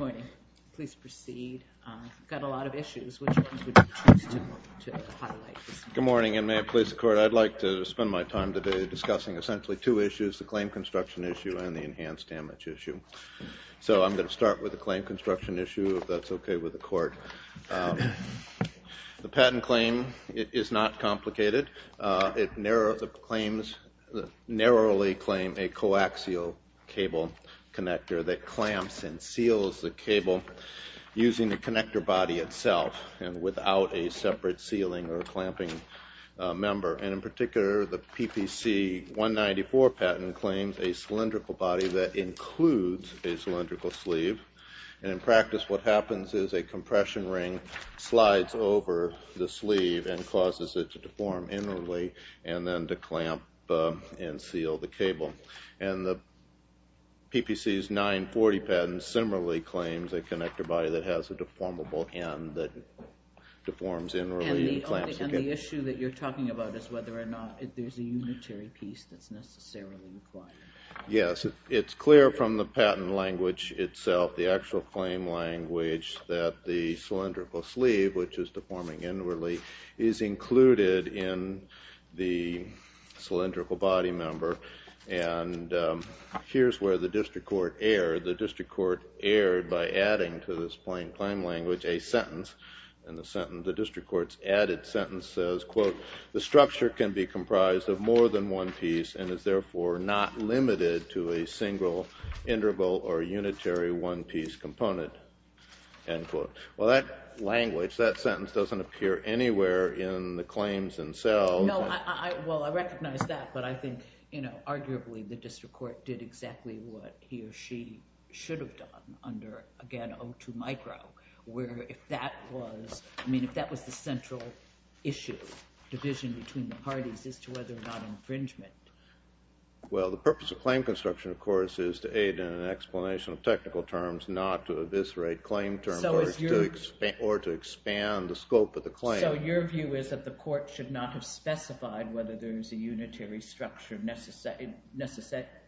Good morning, please proceed, I've got a lot of issues which I would choose to highlight. Good morning and may it please the court, I'd like to spend my time today discussing essentially two issues, the claim construction issue and the enhanced damage issue. So I'm going to start with the claim construction issue, if that's okay with the court. The patent claim is not complicated, it narrowly claims a coaxial cable connector that clamps and seals the cable using the connector body itself and without a separate sealing or clamping member. And in particular the PPC 194 patent claims a cylindrical body that includes a cylindrical sleeve and in practice what happens is a compression ring slides over the sleeve and causes it to deform inwardly and then to clamp and seal the cable. And the PPC 940 patent similarly claims a connector body that has a deformable end that deforms inwardly. And the issue that you're talking about is whether or not there's a unitary piece that's necessarily required. Yes, it's clear from the patent language itself, the actual claim language that the cylindrical sleeve which is deforming inwardly is included in the cylindrical body member and here's where the district court erred, the district court erred by adding to this plain claim language a sentence and the sentence, the district court's added sentence says, quote, the structure can be comprised of more than one piece and is therefore not limited to a single interval or unitary one piece component, end quote. Well that language, that sentence doesn't appear anywhere in the claims themselves. No, well I recognize that but I think, you know, arguably the district court did exactly what he or she should have done under, again, 02 micro where if that was, I mean, if that was the central issue, division between the parties as to whether or not infringement. Well the purpose of claim construction, of course, is to aid in an explanation of technical terms not to eviscerate claim terms or to expand the scope of the claim. So your view is that the court should not have specified whether there is a unitary structure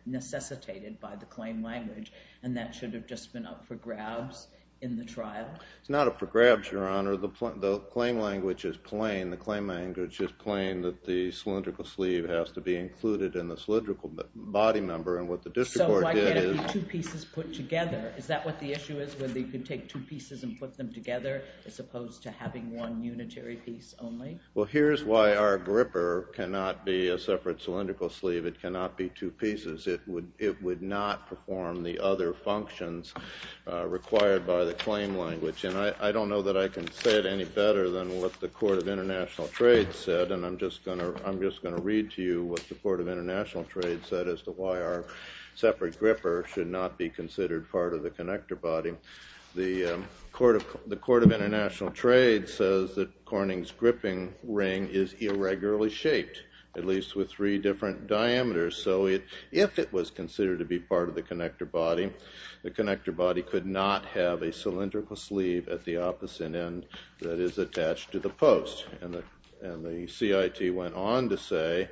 necessitated by the claim language and that should have just been up for grabs in the trial? It's not up for grabs, Your Honor. The claim language is plain, the claim language is plain that the cylindrical sleeve has to be included in the cylindrical body member and what the district court did is. So why can't it be two pieces put together? Is that what the issue is, whether you can take two pieces and put them together as opposed to having one unitary piece only? Well, here's why our gripper cannot be a separate cylindrical sleeve, it cannot be two pieces. It would not perform the other functions required by the claim language and I don't know that I can say it any better than what the Court of International Trade said and I'm just going to read to you what the Court of International Trade said as to why our separate gripper should not be considered part of the connector body. The Court of International Trade says that Corning's gripping ring is irregularly shaped, at least with three different diameters, so if it was considered to be part of the connector body, the connector body could not have a cylindrical sleeve at the opposite end that is attached to the post and the CIT went on to say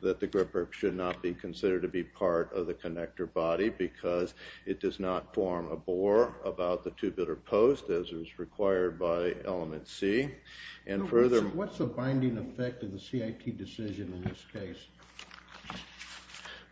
that the gripper should not be considered to be part of the connector body because it does not form a bore about the two-bidder post as is required by element C and further... What's the binding effect of the CIT decision in this case?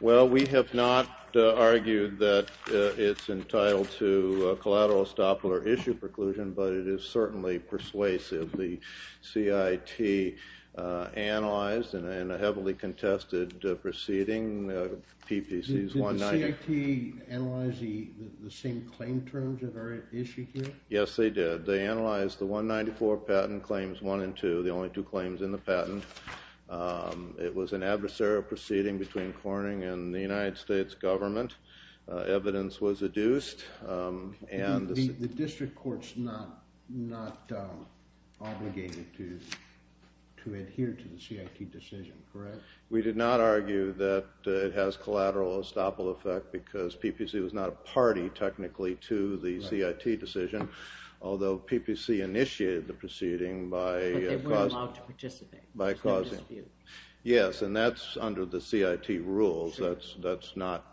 Well we have not argued that it's entitled to collateral estoppel or issue preclusion but it is certainly persuasive. The CIT analyzed in a heavily contested proceeding, PPCs 190... Did the CIT analyze the same claim terms of our issue here? Yes they did. They analyzed the 194 patent claims 1 and 2, the only two claims in the patent. It was an adversarial proceeding between Corning and the United States government. Evidence was adduced and... The district court's not obligated to adhere to the CIT decision, correct? We did not argue that it has collateral estoppel effect because PPC was not a party technically to the CIT decision, although PPC initiated the proceeding by... But they weren't allowed to participate? By causing... Yes, and that's under the CIT rules, that's not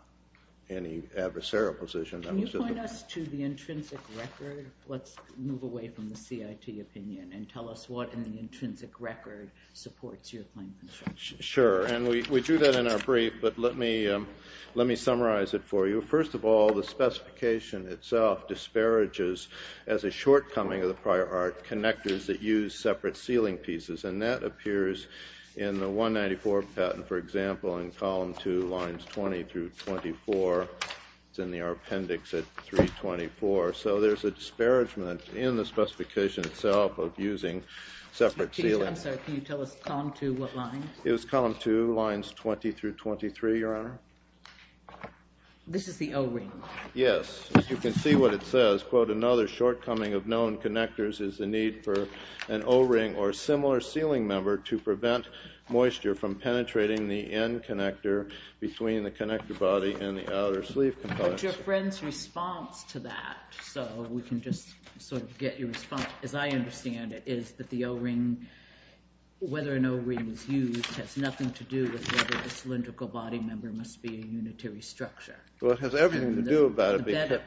any adversarial position. Can you point us to the intrinsic record? Let's move away from the CIT opinion and tell us what in the intrinsic record supports your claim construction. Sure, and we drew that in our brief but let me summarize it for you. First of all, the specification itself disparages, as a shortcoming of the prior art, connectors that use separate ceiling pieces and that appears in the 194 patent, for example, in So there's a disparagement in the specification itself of using separate ceilings. I'm sorry, can you tell us column two, what line? It was column two, lines 20 through 23, Your Honor. This is the O-ring? Yes. As you can see what it says, quote, another shortcoming of known connectors is the need for an O-ring or similar ceiling member to prevent moisture from penetrating the N-connector between the connector body and the outer sleeve components. But your friend's response to that, so we can just sort of get your response, as I understand it, is that the O-ring, whether an O-ring is used, has nothing to do with whether the cylindrical body member must be a unitary structure. Well, it has everything to do about it.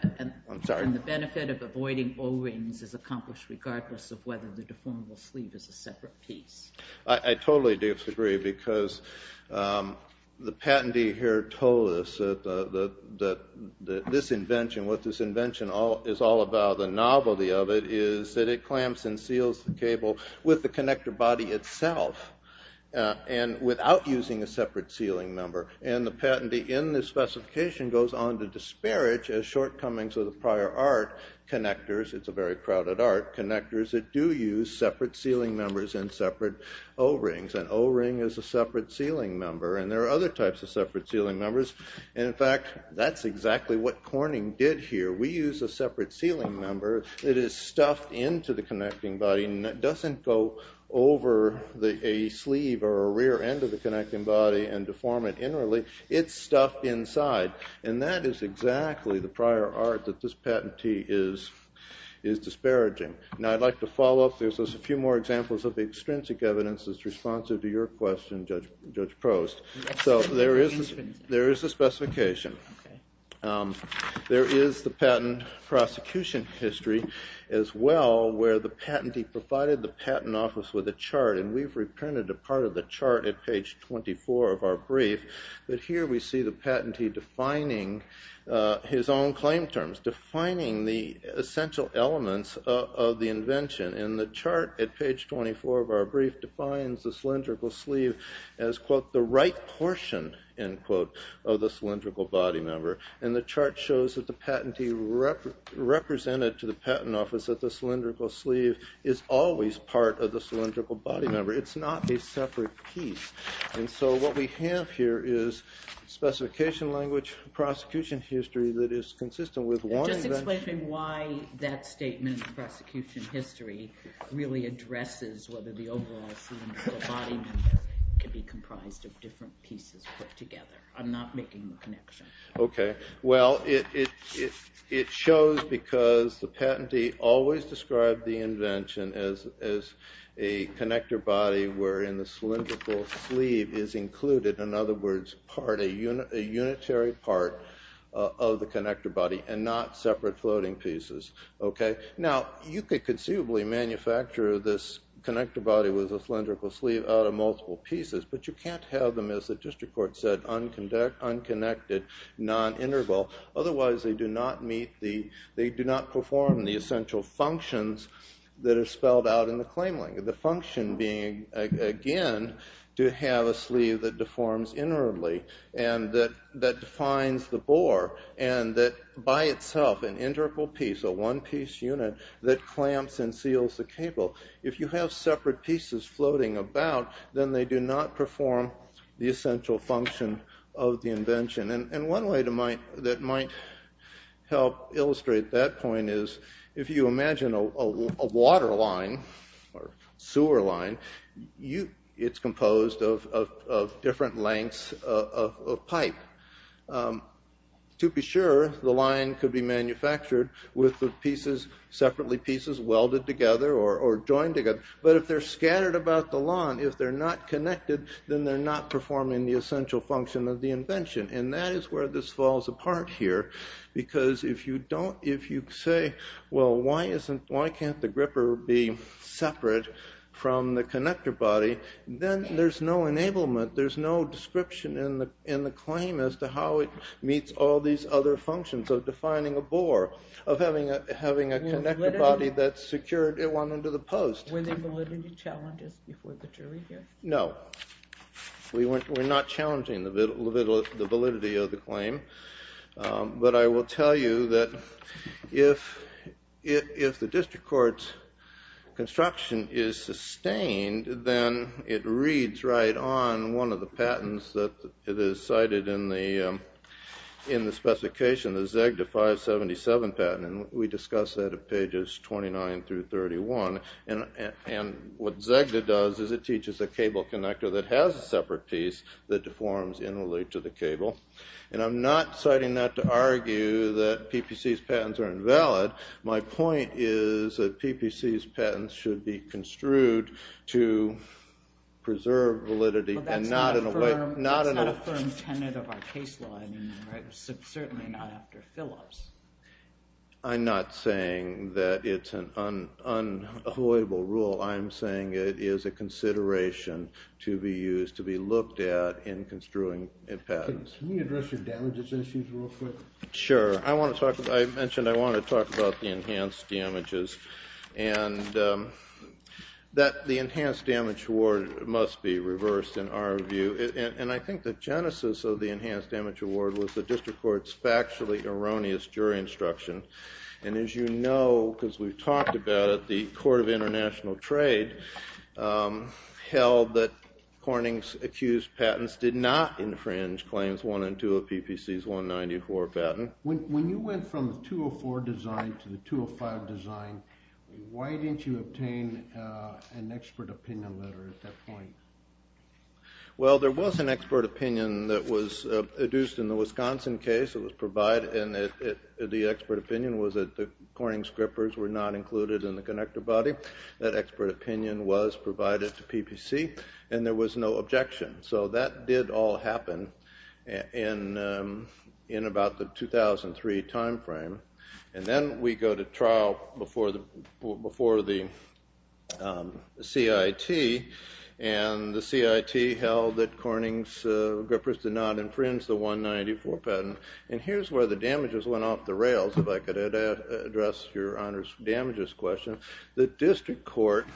I'm sorry. And the benefit of avoiding O-rings is accomplished regardless of whether the deformable sleeve is a separate piece. I totally disagree because the patentee here told us that this invention, what this invention is all about, the novelty of it, is that it clamps and seals the cable with the connector body itself and without using a separate ceiling member. And the patentee in the specification goes on to disparage as shortcomings of the prior art connectors, it's a very crowded art, connectors that do use separate ceiling members and separate O-rings. An O-ring is a separate ceiling member, and there are other types of separate ceiling members. And in fact, that's exactly what Corning did here. We use a separate ceiling member that is stuffed into the connecting body and that doesn't go over a sleeve or a rear end of the connecting body and deform it inwardly. It's stuffed inside. And that is exactly the prior art that this patentee is disparaging. Now I'd like to follow up. There's a few more examples of the extrinsic evidence that's responsive to your question, Judge Prost. So there is a specification. There is the patent prosecution history as well, where the patentee provided the patent office with a chart, and we've reprinted a part of the chart at page 24 of our brief. But here we see the patentee defining his own claim terms, defining the essential elements of the invention. And the chart at page 24 of our brief defines the cylindrical sleeve as, quote, the right portion, end quote, of the cylindrical body member. And the chart shows that the patentee represented to the patent office that the cylindrical sleeve is always part of the cylindrical body member. It's not a separate piece. And so what we have here is specification language, prosecution history that is consistent with one invention. Can you explain to me why that statement, prosecution history, really addresses whether the overall scene of the body members could be comprised of different pieces put together? I'm not making the connection. OK. Well, it shows because the patentee always described the invention as a connector body where in the cylindrical sleeve is included, in other words, a unitary part of the connector body and not separate floating pieces. OK. Now, you could conceivably manufacture this connector body with a cylindrical sleeve out of multiple pieces. But you can't have them, as the district court said, unconnected, non-interval. Otherwise they do not meet the, they do not perform the essential functions that are spelled out in the claim language. The function being, again, to have a sleeve that deforms inwardly and that defines the by itself an integral piece, a one-piece unit that clamps and seals the cable. If you have separate pieces floating about, then they do not perform the essential function of the invention. And one way to, that might help illustrate that point is if you imagine a water line or sewer line, it's composed of different lengths of pipe. To be sure, the line could be manufactured with the pieces, separately pieces welded together or joined together. But if they're scattered about the lawn, if they're not connected, then they're not performing the essential function of the invention. And that is where this falls apart here because if you don't, if you say, well, why can't the gripper be separate from the connector body, then there's no enablement, there's no description in the claim as to how it meets all these other functions of defining a bore, of having a connector body that's secured, it went under the post. Were there validity challenges before the jury here? No. We're not challenging the validity of the claim. But I will tell you that if the district court's construction is sustained, then it reads right on one of the patents that it is cited in the specification, the ZEGDA 577 patent. We discuss that at pages 29 through 31. And what ZEGDA does is it teaches a cable connector that has a separate piece that deforms in relation to the cable. And I'm not citing that to argue that PPC's patents are invalid. My point is that PPC's patents should be construed to preserve validity and not in a way, not Well, that's not a firm tenet of our case law anymore, certainly not after Phillips. I'm not saying that it's an unavoidable rule. I'm saying it is a consideration to be used, to be looked at in construing patents. Can we address your damages issues real quick? Sure. I mentioned I want to talk about the enhanced damages and that the enhanced damage award must be reversed in our view. And I think the genesis of the enhanced damage award was the district court's factually erroneous jury instruction. And as you know, because we've talked about it, the Court of International Trade held that Corning's accused patents did not infringe claims one and two of PPC's 194 patent. When you went from the 204 design to the 205 design, why didn't you obtain an expert opinion letter at that point? Well, there was an expert opinion that was adduced in the Wisconsin case, it was provided, and the expert opinion was that the Corning strippers were not included in the connector body. That expert opinion was provided to PPC, and there was no objection. So that did all happen in about the 2003 time frame. And then we go to trial before the CIT, and the CIT held that Corning's strippers did not infringe the 194 patent. And here's where the damages went off the rails, if I could address your honors damages question. The district court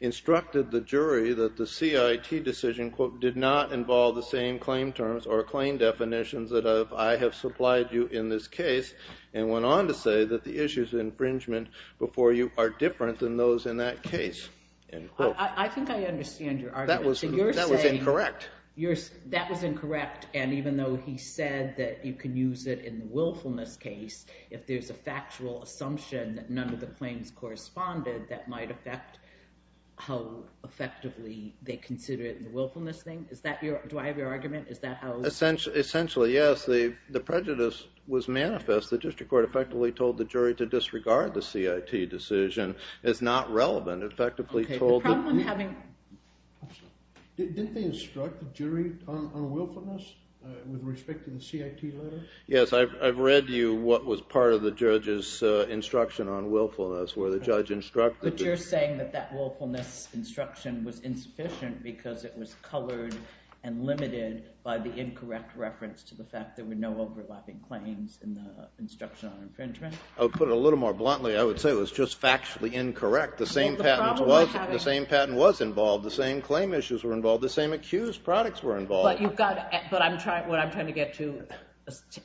instructed the jury that the CIT decision, quote, did not involve the same claim terms or claim definitions that I have supplied you in this case, and went on to say that the issues of infringement before you are different than those in that case. End quote. I think I understand your argument. That was incorrect. That was incorrect. And even though he said that you can use it in the willfulness case, if there's a factual assumption that none of the claims corresponded, that might affect how effectively they consider it in the willfulness thing. Do I have your argument? Is that how? Essentially, yes. The prejudice was manifest. The district court effectively told the jury to disregard the CIT decision. It's not relevant. Effectively told that. OK. The problem having. Didn't they instruct the jury on willfulness with respect to the CIT letter? Yes. I've read to you what was part of the judge's instruction on willfulness, where the judge instructed. But you're saying that that willfulness instruction was insufficient because it was colored and limited by the incorrect reference to the fact there were no overlapping claims in the instruction on infringement? To put it a little more bluntly, I would say it was just factually incorrect. The same patent was involved. The same claim issues were involved. The same accused products were involved. But what I'm trying to get to,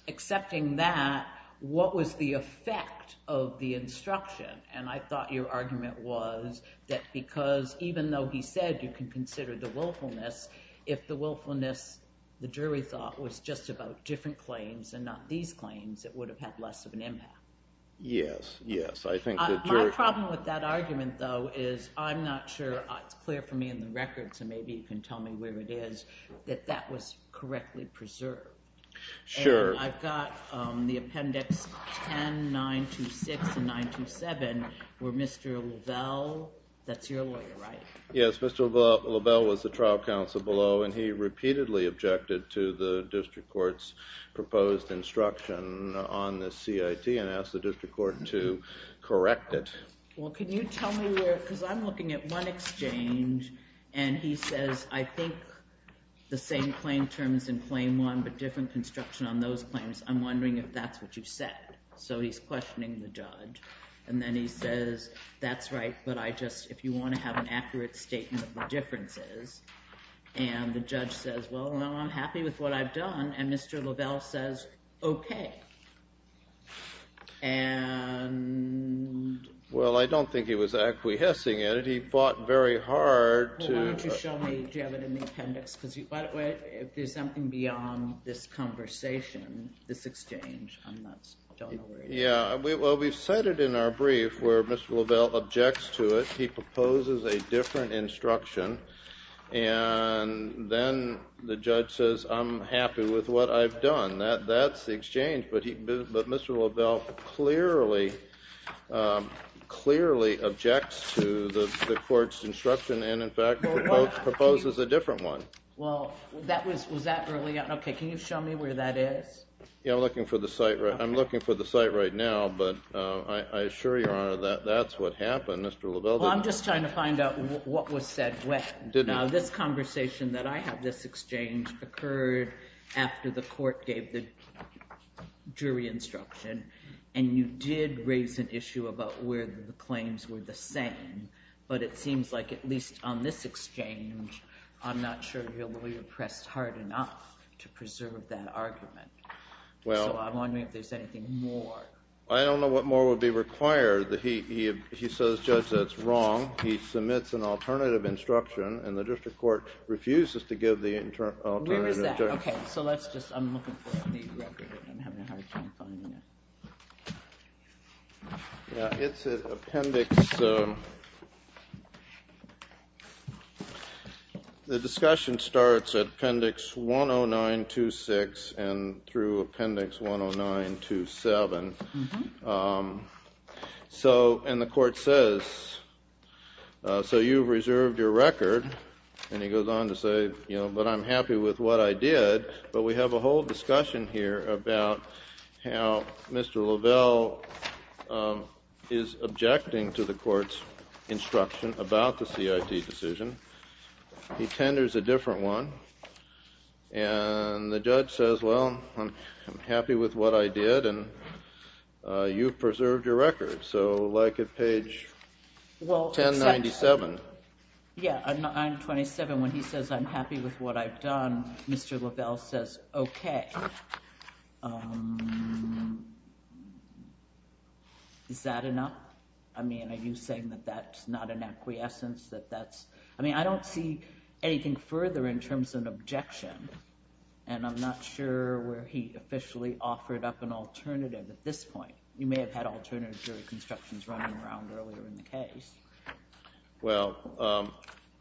accepting that, what was the effect of the instruction? And I thought your argument was that because even though he said you can consider the willfulness, if the willfulness, the jury thought, was just about different claims and not these claims, it would have had less of an impact. Yes. Yes. I think the jury. My problem with that argument, though, is I'm not sure. It's clear for me in the record, so maybe you can tell me where it is, that that was correctly preserved. Sure. And I've got the appendix 10, 926, and 927, where Mr. Lovell, that's your lawyer, right? Yes. Mr. Lovell was the trial counsel below, and he repeatedly objected to the district court's proposed instruction on the CIT and asked the district court to correct it. Well, can you tell me where, because I'm looking at one exchange, and he says, I think the same claim terms in claim one, but different construction on those claims. I'm wondering if that's what you said. So he's questioning the judge. And then he says, that's right, but I just, if you want to have an accurate statement of the differences, and the judge says, well, no, I'm happy with what I've done. And Mr. Lovell says, OK. And? Well, I don't think he was acquiescing in it. He fought very hard to. Why don't you show me, do you have it in the appendix? Because if there's something beyond this conversation, this exchange, I'm not, don't know where it is. Yeah, well, we've cited in our brief where Mr. Lovell objects to it. He proposes a different instruction. And then the judge says, I'm happy with what I've done. That's the exchange. But Mr. Lovell clearly, clearly objects to the court's instruction. And in fact, proposes a different one. Well, that was, was that early on? OK, can you show me where that is? Yeah, I'm looking for the site. I'm looking for the site right now. But I assure you, Your Honor, that that's what happened. Mr. Lovell didn't. I'm just trying to find out what was said when. Now, this conversation that I have, this exchange, occurred after the court gave the jury instruction. And you did raise an issue about where the claims were the same. But it seems like, at least on this exchange, I'm not sure your lawyer pressed hard enough to preserve that argument. So I'm wondering if there's anything more. I don't know what more would be required. He says, Judge, that's wrong. He submits an alternative instruction. And the district court refuses to give the alternative instruction. Where is that? OK, so let's just, I'm looking for the record. I'm having a hard time finding it. Yeah, it's at appendix. The discussion starts at appendix 10926 and through appendix 10927. And the court says, so you've reserved your record. And he goes on to say, but I'm happy with what I did. But we have a whole discussion here about how Mr. Lovell is objecting to the court's instruction about the CIT decision. He tenders a different one. And the judge says, well, I'm happy with what I did. And you've preserved your record. So like at page 1097. Yeah, 927. When he says, I'm happy with what I've done, Mr. Lovell says, OK. Is that enough? I mean, are you saying that that's not an acquiescence? I mean, I don't see anything further in terms of an objection. And I'm not sure where he officially offered up an alternative at this point. You may have had alternative jury constructions running around earlier in the case. Well,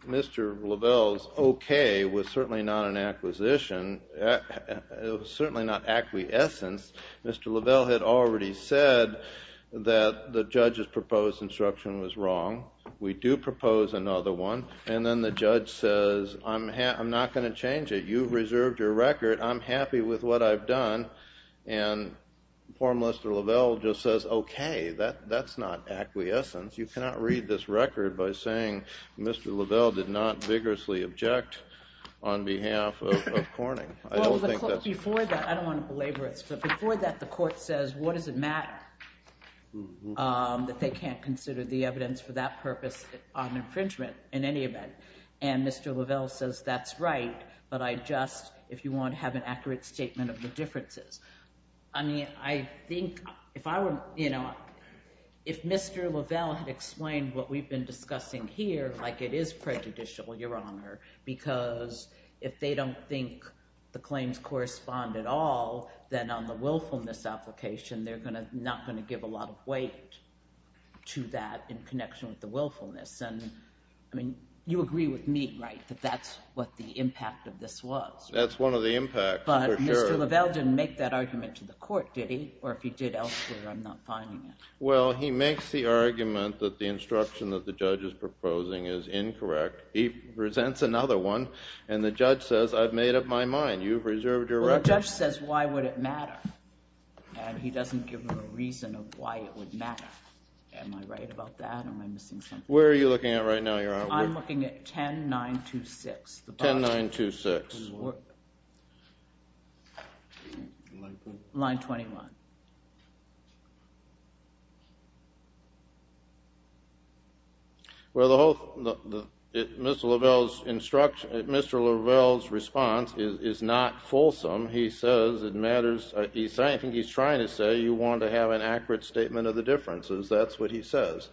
Mr. Lovell's OK was certainly not an acquisition. It was certainly not acquiescence. Mr. Lovell had already said that the judge's proposed instruction was wrong. We do propose another one. And then the judge says, I'm not going to change it. You've reserved your record. I'm happy with what I've done. And poor Mr. Lovell just says, OK, that's not acquiescence. You cannot read this record by saying Mr. Lovell did not vigorously object on behalf of Corning. I don't think that's. Before that, I don't want to belabor it. But before that, the court says, what does it matter that they can't consider the evidence for that purpose on infringement in any event? And Mr. Lovell says, that's right. But I just, if you want to have an accurate statement of the differences. I mean, I think if Mr. Lovell had explained what we've been discussing here, like it is prejudicial, Your Honor, because if they don't think the claims correspond at all, then on the willfulness application, they're not going to give a lot of weight to that in connection with the willfulness. And I mean, you agree with me, right, that that's what the impact of this was. Mr. Lovell didn't make that argument to the court, did he? Or if he did elsewhere, I'm not finding it. Well, he makes the argument that the instruction that the judge is proposing is incorrect. He presents another one. And the judge says, I've made up my mind. You've reserved your record. Well, the judge says, why would it matter? And he doesn't give a reason of why it would matter. Am I right about that? Or am I missing something? Where are you looking at right now, Your Honor? I'm looking at 10.926. 10.926. Line 21. Well, Mr. Lovell's response is not fulsome. He says it matters. I think he's trying to say you want to have an accurate statement of the differences. That's what he says.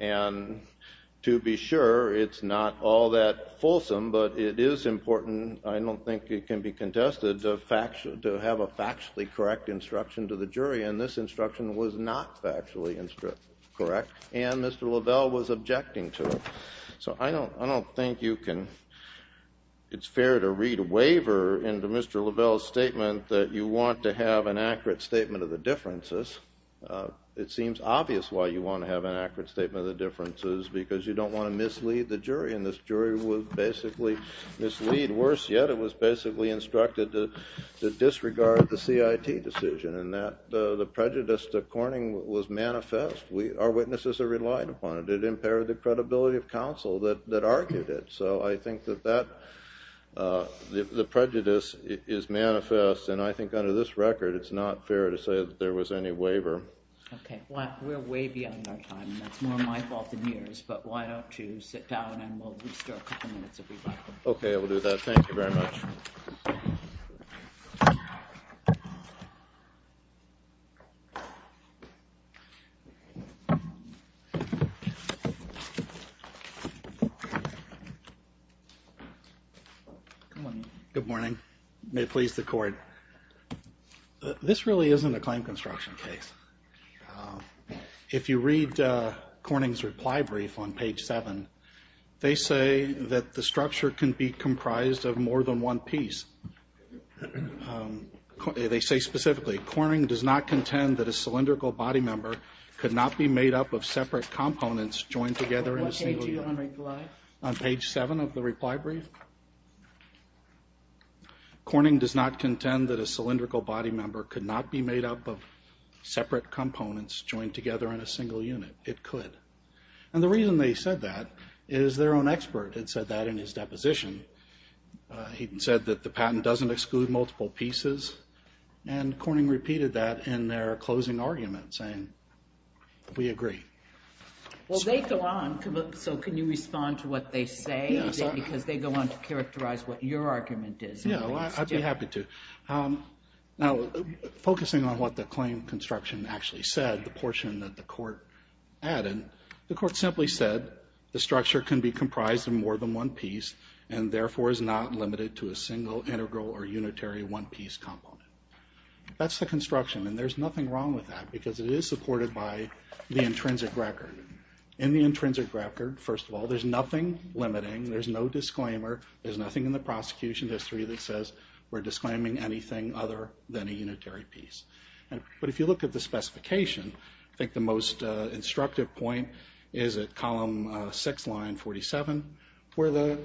And to be sure, it's not all that fulsome, but it is important. I don't think it can be contested to have a factually correct instruction to the jury. And this instruction was not factually correct. And Mr. Lovell was objecting to it. So I don't think you can. It's fair to read a waiver into Mr. Lovell's statement that you want to have an accurate statement of the differences. It seems obvious why you want to have an accurate statement of the differences, because you don't want to mislead the jury. And this jury was basically mislead. Worse yet, it was basically instructed to disregard the CIT decision. And the prejudice to Corning was manifest. Our witnesses relied upon it. It impaired the credibility of counsel that argued it. So I think that the prejudice is manifest. And I think under this record, it's not fair to say that there was any waiver. Okay. Well, we're way beyond our time, and that's more my fault than yours. But why don't you sit down, and we'll restore a couple minutes if we'd like. Okay, I will do that. Thank you very much. Good morning. Good morning. May it please the Court, this really isn't a claim construction case. If you read Corning's reply brief on page 7, they say that the structure can be comprised of more than one piece. They say specifically, Corning does not contend that a cylindrical body member could not be made up of separate components joined together in a single unit. What page are you on reply? On page 7 of the reply brief. Corning does not contend that a cylindrical body member could not be made up of separate components joined together in a single unit. It could. And the reason they said that is their own expert had said that in his deposition. He said that the patent doesn't exclude multiple pieces. And Corning repeated that in their closing argument, saying, we agree. Well, they go on, so can you respond to what they say? Because they go on to characterize what your argument is. Yeah, well, I'd be happy to. Now, focusing on what the claim construction actually said, the portion that the Court added, the Court simply said the structure can be comprised of more than one piece and therefore is not limited to a single integral or unitary one piece component. That's the construction. And there's nothing wrong with that because it is supported by the intrinsic record. In the intrinsic record, first of all, there's nothing limiting. There's no disclaimer. There's nothing in the prosecution history that says we're disclaiming anything other than a unitary piece. But if you look at the specification, I think the most instructive point is at column 6, line 47, where the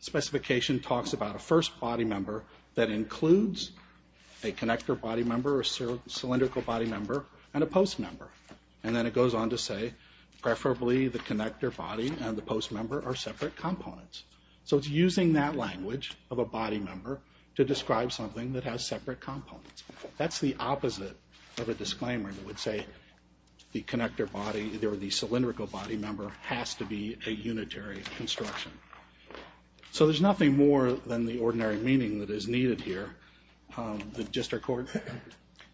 specification talks about a first body member that includes a connector body member or cylindrical body member and a post member. And then it goes on to say, preferably the connector body and the post member are separate components. So it's using that language of a body member to describe something that has separate components. That's the opposite of a disclaimer that would say the connector body or the cylindrical body member has to be a unitary construction. So there's nothing more than the ordinary meaning that is needed here. Just our Court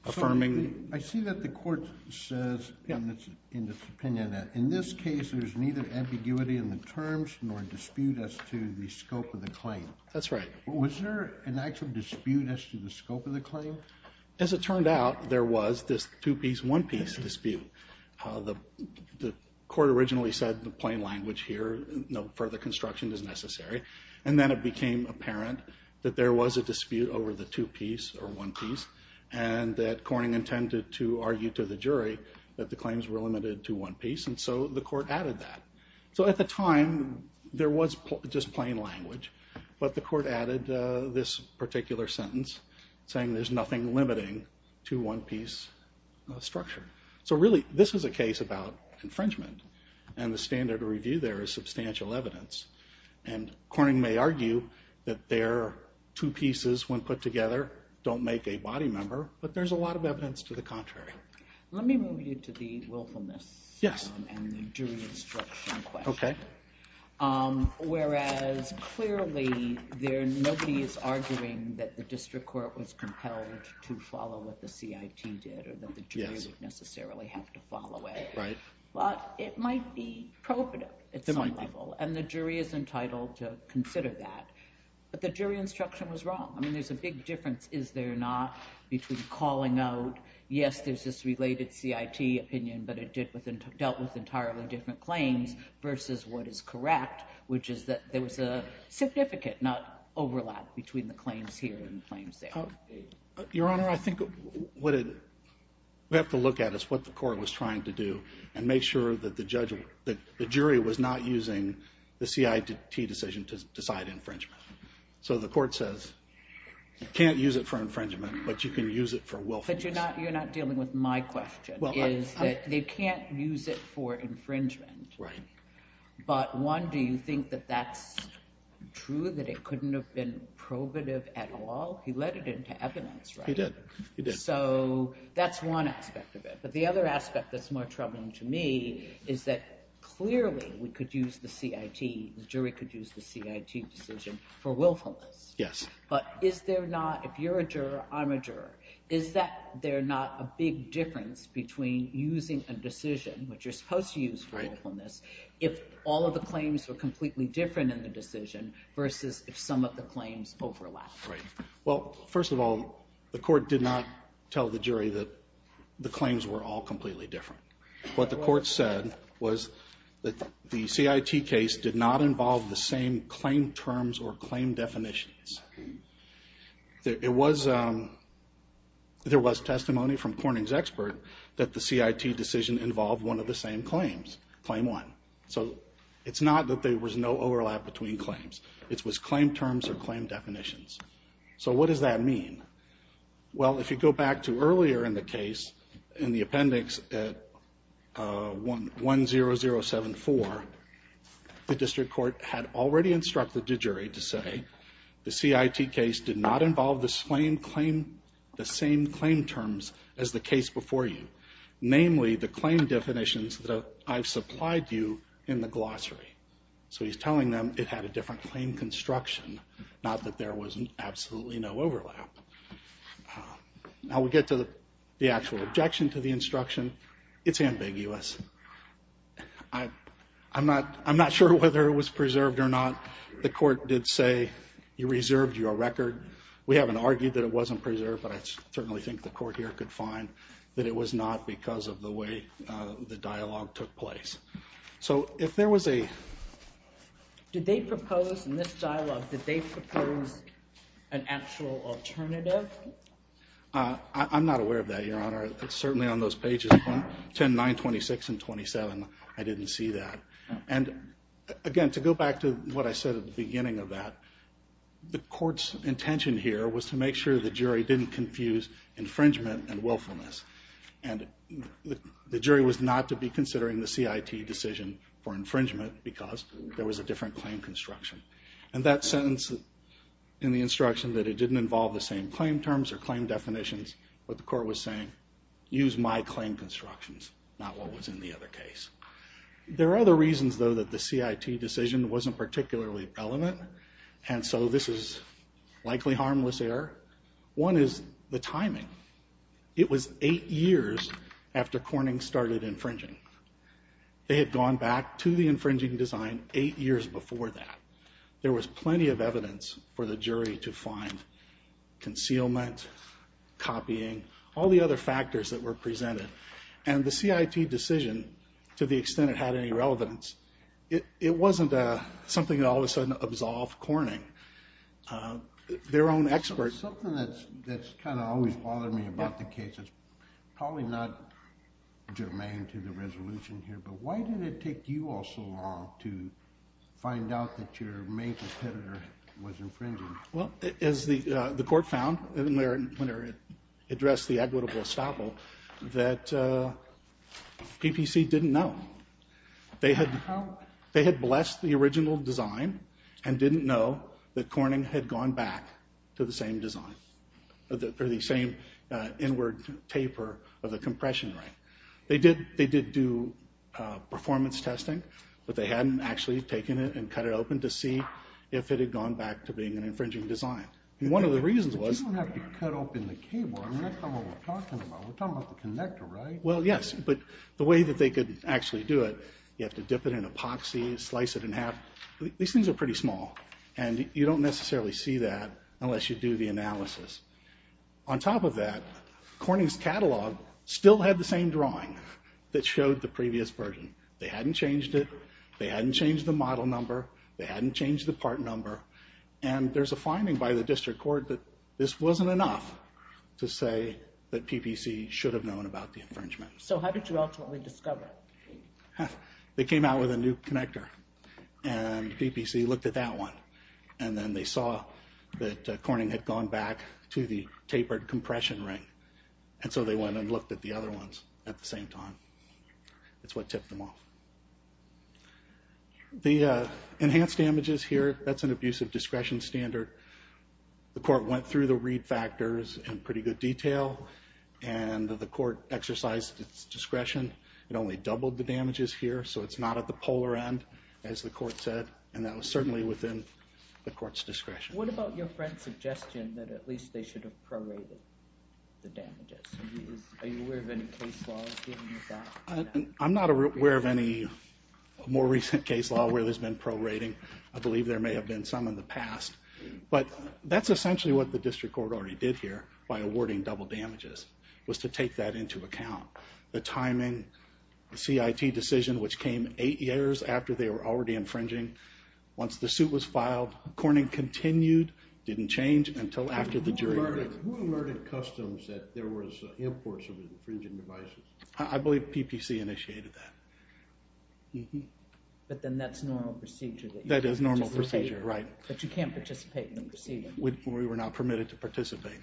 affirming. I see that the Court says in its opinion that in this case there's neither ambiguity in the terms nor dispute as to the scope of the claim. That's right. Was there an actual dispute as to the scope of the claim? As it turned out, there was this two-piece, one-piece dispute. The Court originally said the plain language here, no further construction is necessary. And then it became apparent that there was a dispute over the two-piece or one-piece, and that Corning intended to argue to the jury that the claims were limited to one piece, and so the Court added that. So at the time, there was just plain language, but the Court added this particular sentence, saying there's nothing limiting to one-piece structure. So really, this is a case about infringement, and the standard review there is substantial evidence. And Corning may argue that there are two pieces when put together don't make a body member, but there's a lot of evidence to the contrary. Let me move you to the willfulness and the jury instruction question. Okay. Whereas clearly nobody is arguing that the district court was compelled to follow what the CIT did or that the jury would necessarily have to follow it. Right. But it might be prohibitive at some level, and the jury is entitled to consider that. But the jury instruction was wrong. I mean, there's a big difference, is there or not, between calling out, yes, there's this related CIT opinion, but it dealt with entirely different claims, versus what is correct, which is that there was a significant, not overlap, between the claims here and the claims there. Your Honor, I think we have to look at what the Court was trying to do and make sure that the jury was not using the CIT decision to decide infringement. So the Court says you can't use it for infringement, but you can use it for willfulness. But you're not dealing with my question, is that they can't use it for infringement. Right. But one, do you think that that's true, that it couldn't have been prohibitive at all? He led it into evidence, right? He did. He did. So that's one aspect of it. But the other aspect that's more troubling to me is that clearly we could use the CIT, the jury could use the CIT decision for willfulness. Yes. But is there not, if you're a juror, I'm a juror, is there not a big difference between using a decision, which you're supposed to use for willfulness, if all of the claims were completely different in the decision, versus if some of the claims overlap? Right. Well, first of all, the Court did not tell the jury that the claims were all completely different. What the Court said was that the CIT case did not involve the same claim terms or claim definitions. There was testimony from Corning's expert that the CIT decision involved one of the same claims, Claim 1. So it's not that there was no overlap between claims. It was claim terms or claim definitions. So what does that mean? Well, if you go back to earlier in the case, in the appendix at 10074, the District Court had already instructed the jury to say the CIT case did not involve the same claim terms as the case before you, namely the claim definitions that I've supplied you in the glossary. So he's telling them it had a different claim construction, not that there was absolutely no overlap. Now we get to the actual objection to the instruction. It's ambiguous. I'm not sure whether it was preserved or not. The Court did say, you reserved your record. We haven't argued that it wasn't preserved, but I certainly think the Court here could find that it was not because of the way the dialogue took place. So if there was a... Did they propose in this dialogue, did they propose an actual alternative? I'm not aware of that, Your Honor. It's certainly on those pages 10, 9, 26, and 27. I didn't see that. And again, to go back to what I said at the beginning of that, the Court's intention here was to make sure the jury didn't confuse infringement and willfulness. And the jury was not to be considering the CIT decision for infringement because there was a different claim construction. And that sentence in the instruction that it didn't involve the same claim terms or claim definitions, what the Court was saying, use my claim constructions, not what was in the other case. There are other reasons, though, that the CIT decision wasn't particularly relevant, and so this is likely harmless error. One is the timing. It was 8 years after Corning started infringing. They had gone back to the infringing design 8 years before that. There was plenty of evidence for the jury to find concealment, copying, all the other factors that were presented. And the CIT decision, to the extent it had any relevance, it wasn't something that all of a sudden absolved Corning. Something that's kind of always bothered me about the case is probably not germane to the resolution here, but why did it take you all so long to find out that your main competitor was infringing? Well, as the Court found when it addressed the equitable estoppel, that PPC didn't know. They had blessed the original design and didn't know that Corning had gone back to the same design, or the same inward taper of the compression ring. They did do performance testing, but they hadn't actually taken it and cut it open to see if it had gone back to being an infringing design. One of the reasons was... But you don't have to cut open the cable. I mean, that's not what we're talking about. We're talking about the connector, right? Well, yes, but the way that they could actually do it, you have to dip it in epoxy, slice it in half. These things are pretty small, and you don't necessarily see that unless you do the analysis. On top of that, Corning's catalog still had the same drawing that showed the previous version. They hadn't changed it. They hadn't changed the model number. They hadn't changed the part number. And there's a finding by the district court that this wasn't enough to say that PPC should have known about the infringement. So how did you ultimately discover it? They came out with a new connector, and PPC looked at that one, and then they saw that Corning had gone back to the tapered compression ring, and so they went and looked at the other ones at the same time. That's what tipped them off. The enhanced damages here, that's an abusive discretion standard. The court went through the read factors in pretty good detail, and the court exercised its discretion. It only doubled the damages here, so it's not at the polar end, as the court said, and that was certainly within the court's discretion. What about your friend's suggestion that at least they should have prorated the damages? Are you aware of any case laws giving you that? I'm not aware of any more recent case law where there's been prorating. I believe there may have been some in the past, but that's essentially what the district court already did here by awarding double damages, was to take that into account. The timing, the CIT decision, which came eight years after they were already infringing. Once the suit was filed, Corning continued, didn't change until after the jury heard it. Who alerted customs that there was imports of infringing devices? I believe PPC initiated that. But then that's normal procedure. That is normal procedure, right. But you can't participate in the proceeding. We were not permitted to participate.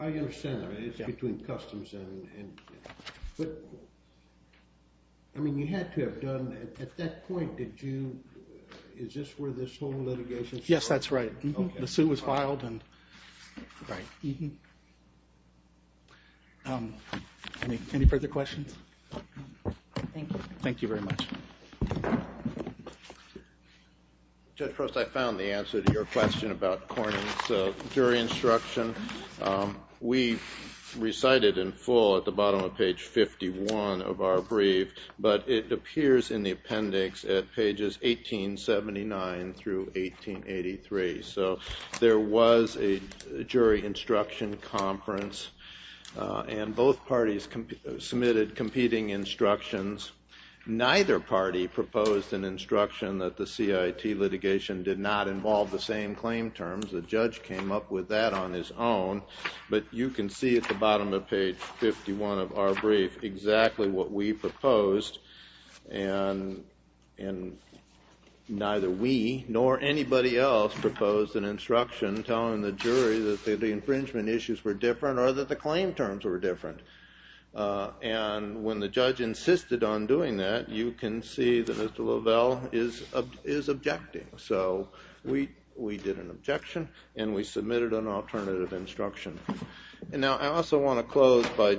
I understand that. It's between customs. You had to have done, at that point, is this where this whole litigation started? Yes, that's right. The suit was filed. Any further questions? Thank you. Thank you very much. Judge Prost, I found the answer to your question about Corning's jury instruction. We recited in full at the bottom of page 51 of our brief, but it appears in the appendix at pages 1879 through 1883. So there was a jury instruction conference, and both parties submitted competing instructions. Neither party proposed an instruction that the CIT litigation did not involve the same claim terms. The judge came up with that on his own. But you can see at the bottom of page 51 of our brief exactly what we proposed. And neither we nor anybody else proposed an instruction telling the jury that the infringement issues were different or that the claim terms were different. And when the judge insisted on doing that, you can see that Mr. Lovell is objecting. So we did an objection, and we submitted an alternative instruction. And now I also want to close by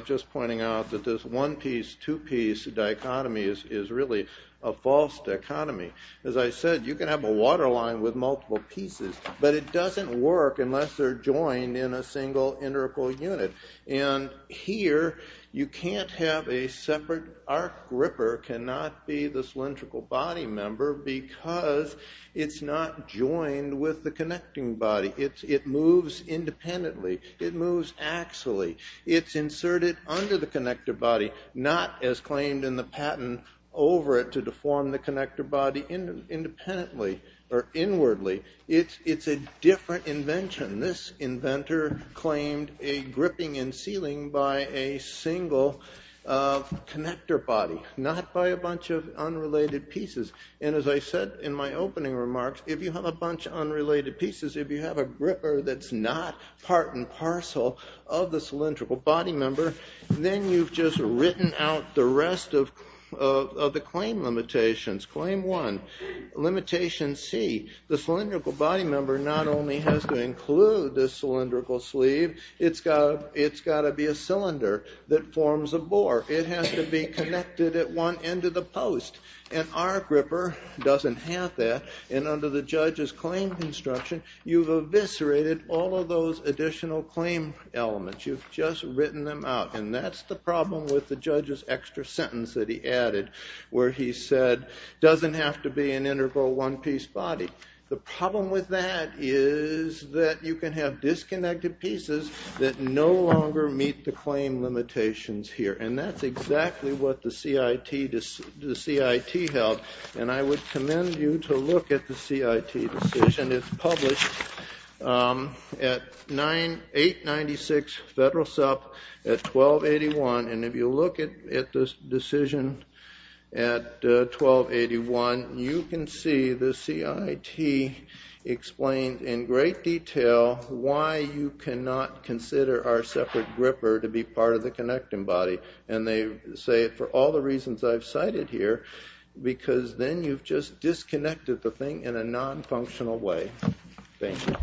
just pointing out that this one-piece, two-piece dichotomy is really a false dichotomy. As I said, you can have a waterline with multiple pieces, but it doesn't work unless they're joined in a single integral unit. And here, you can't have a separate arc gripper cannot be the cylindrical body member because it's not joined with the connecting body. It moves independently. It moves axially. It's inserted under the connector body, not as claimed in the patent over it to deform the connector body independently or inwardly. It's a different invention. This inventor claimed a gripping and sealing by a single connector body, not by a bunch of unrelated pieces. And as I said in my opening remarks, if you have a bunch of unrelated pieces, if you have a gripper that's not part and parcel of the cylindrical body member, then you've just written out the rest of the claim limitations. Claim one, limitation C, the cylindrical body member not only has to include the cylindrical sleeve, it's got to be a cylinder that forms a bore. It has to be connected at one end of the post. An arc gripper doesn't have that. And under the judge's claim construction, you've eviscerated all of those additional claim elements. You've just written them out. And that's the problem with the judge's extra sentence that he added, where he said, doesn't have to be an integral one-piece body. The problem with that is that you can have disconnected pieces that no longer meet the claim limitations here. And that's exactly what the CIT held. And I would commend you to look at the CIT decision. It's published at 896 Federal Sup at 1281. And if you look at this decision at 1281, you can see the CIT explains in great detail why you cannot consider our separate gripper to be part of the connecting body. And they say, for all the reasons I've cited here, because then you've just disconnected the thing in a non-functional way. Thank you.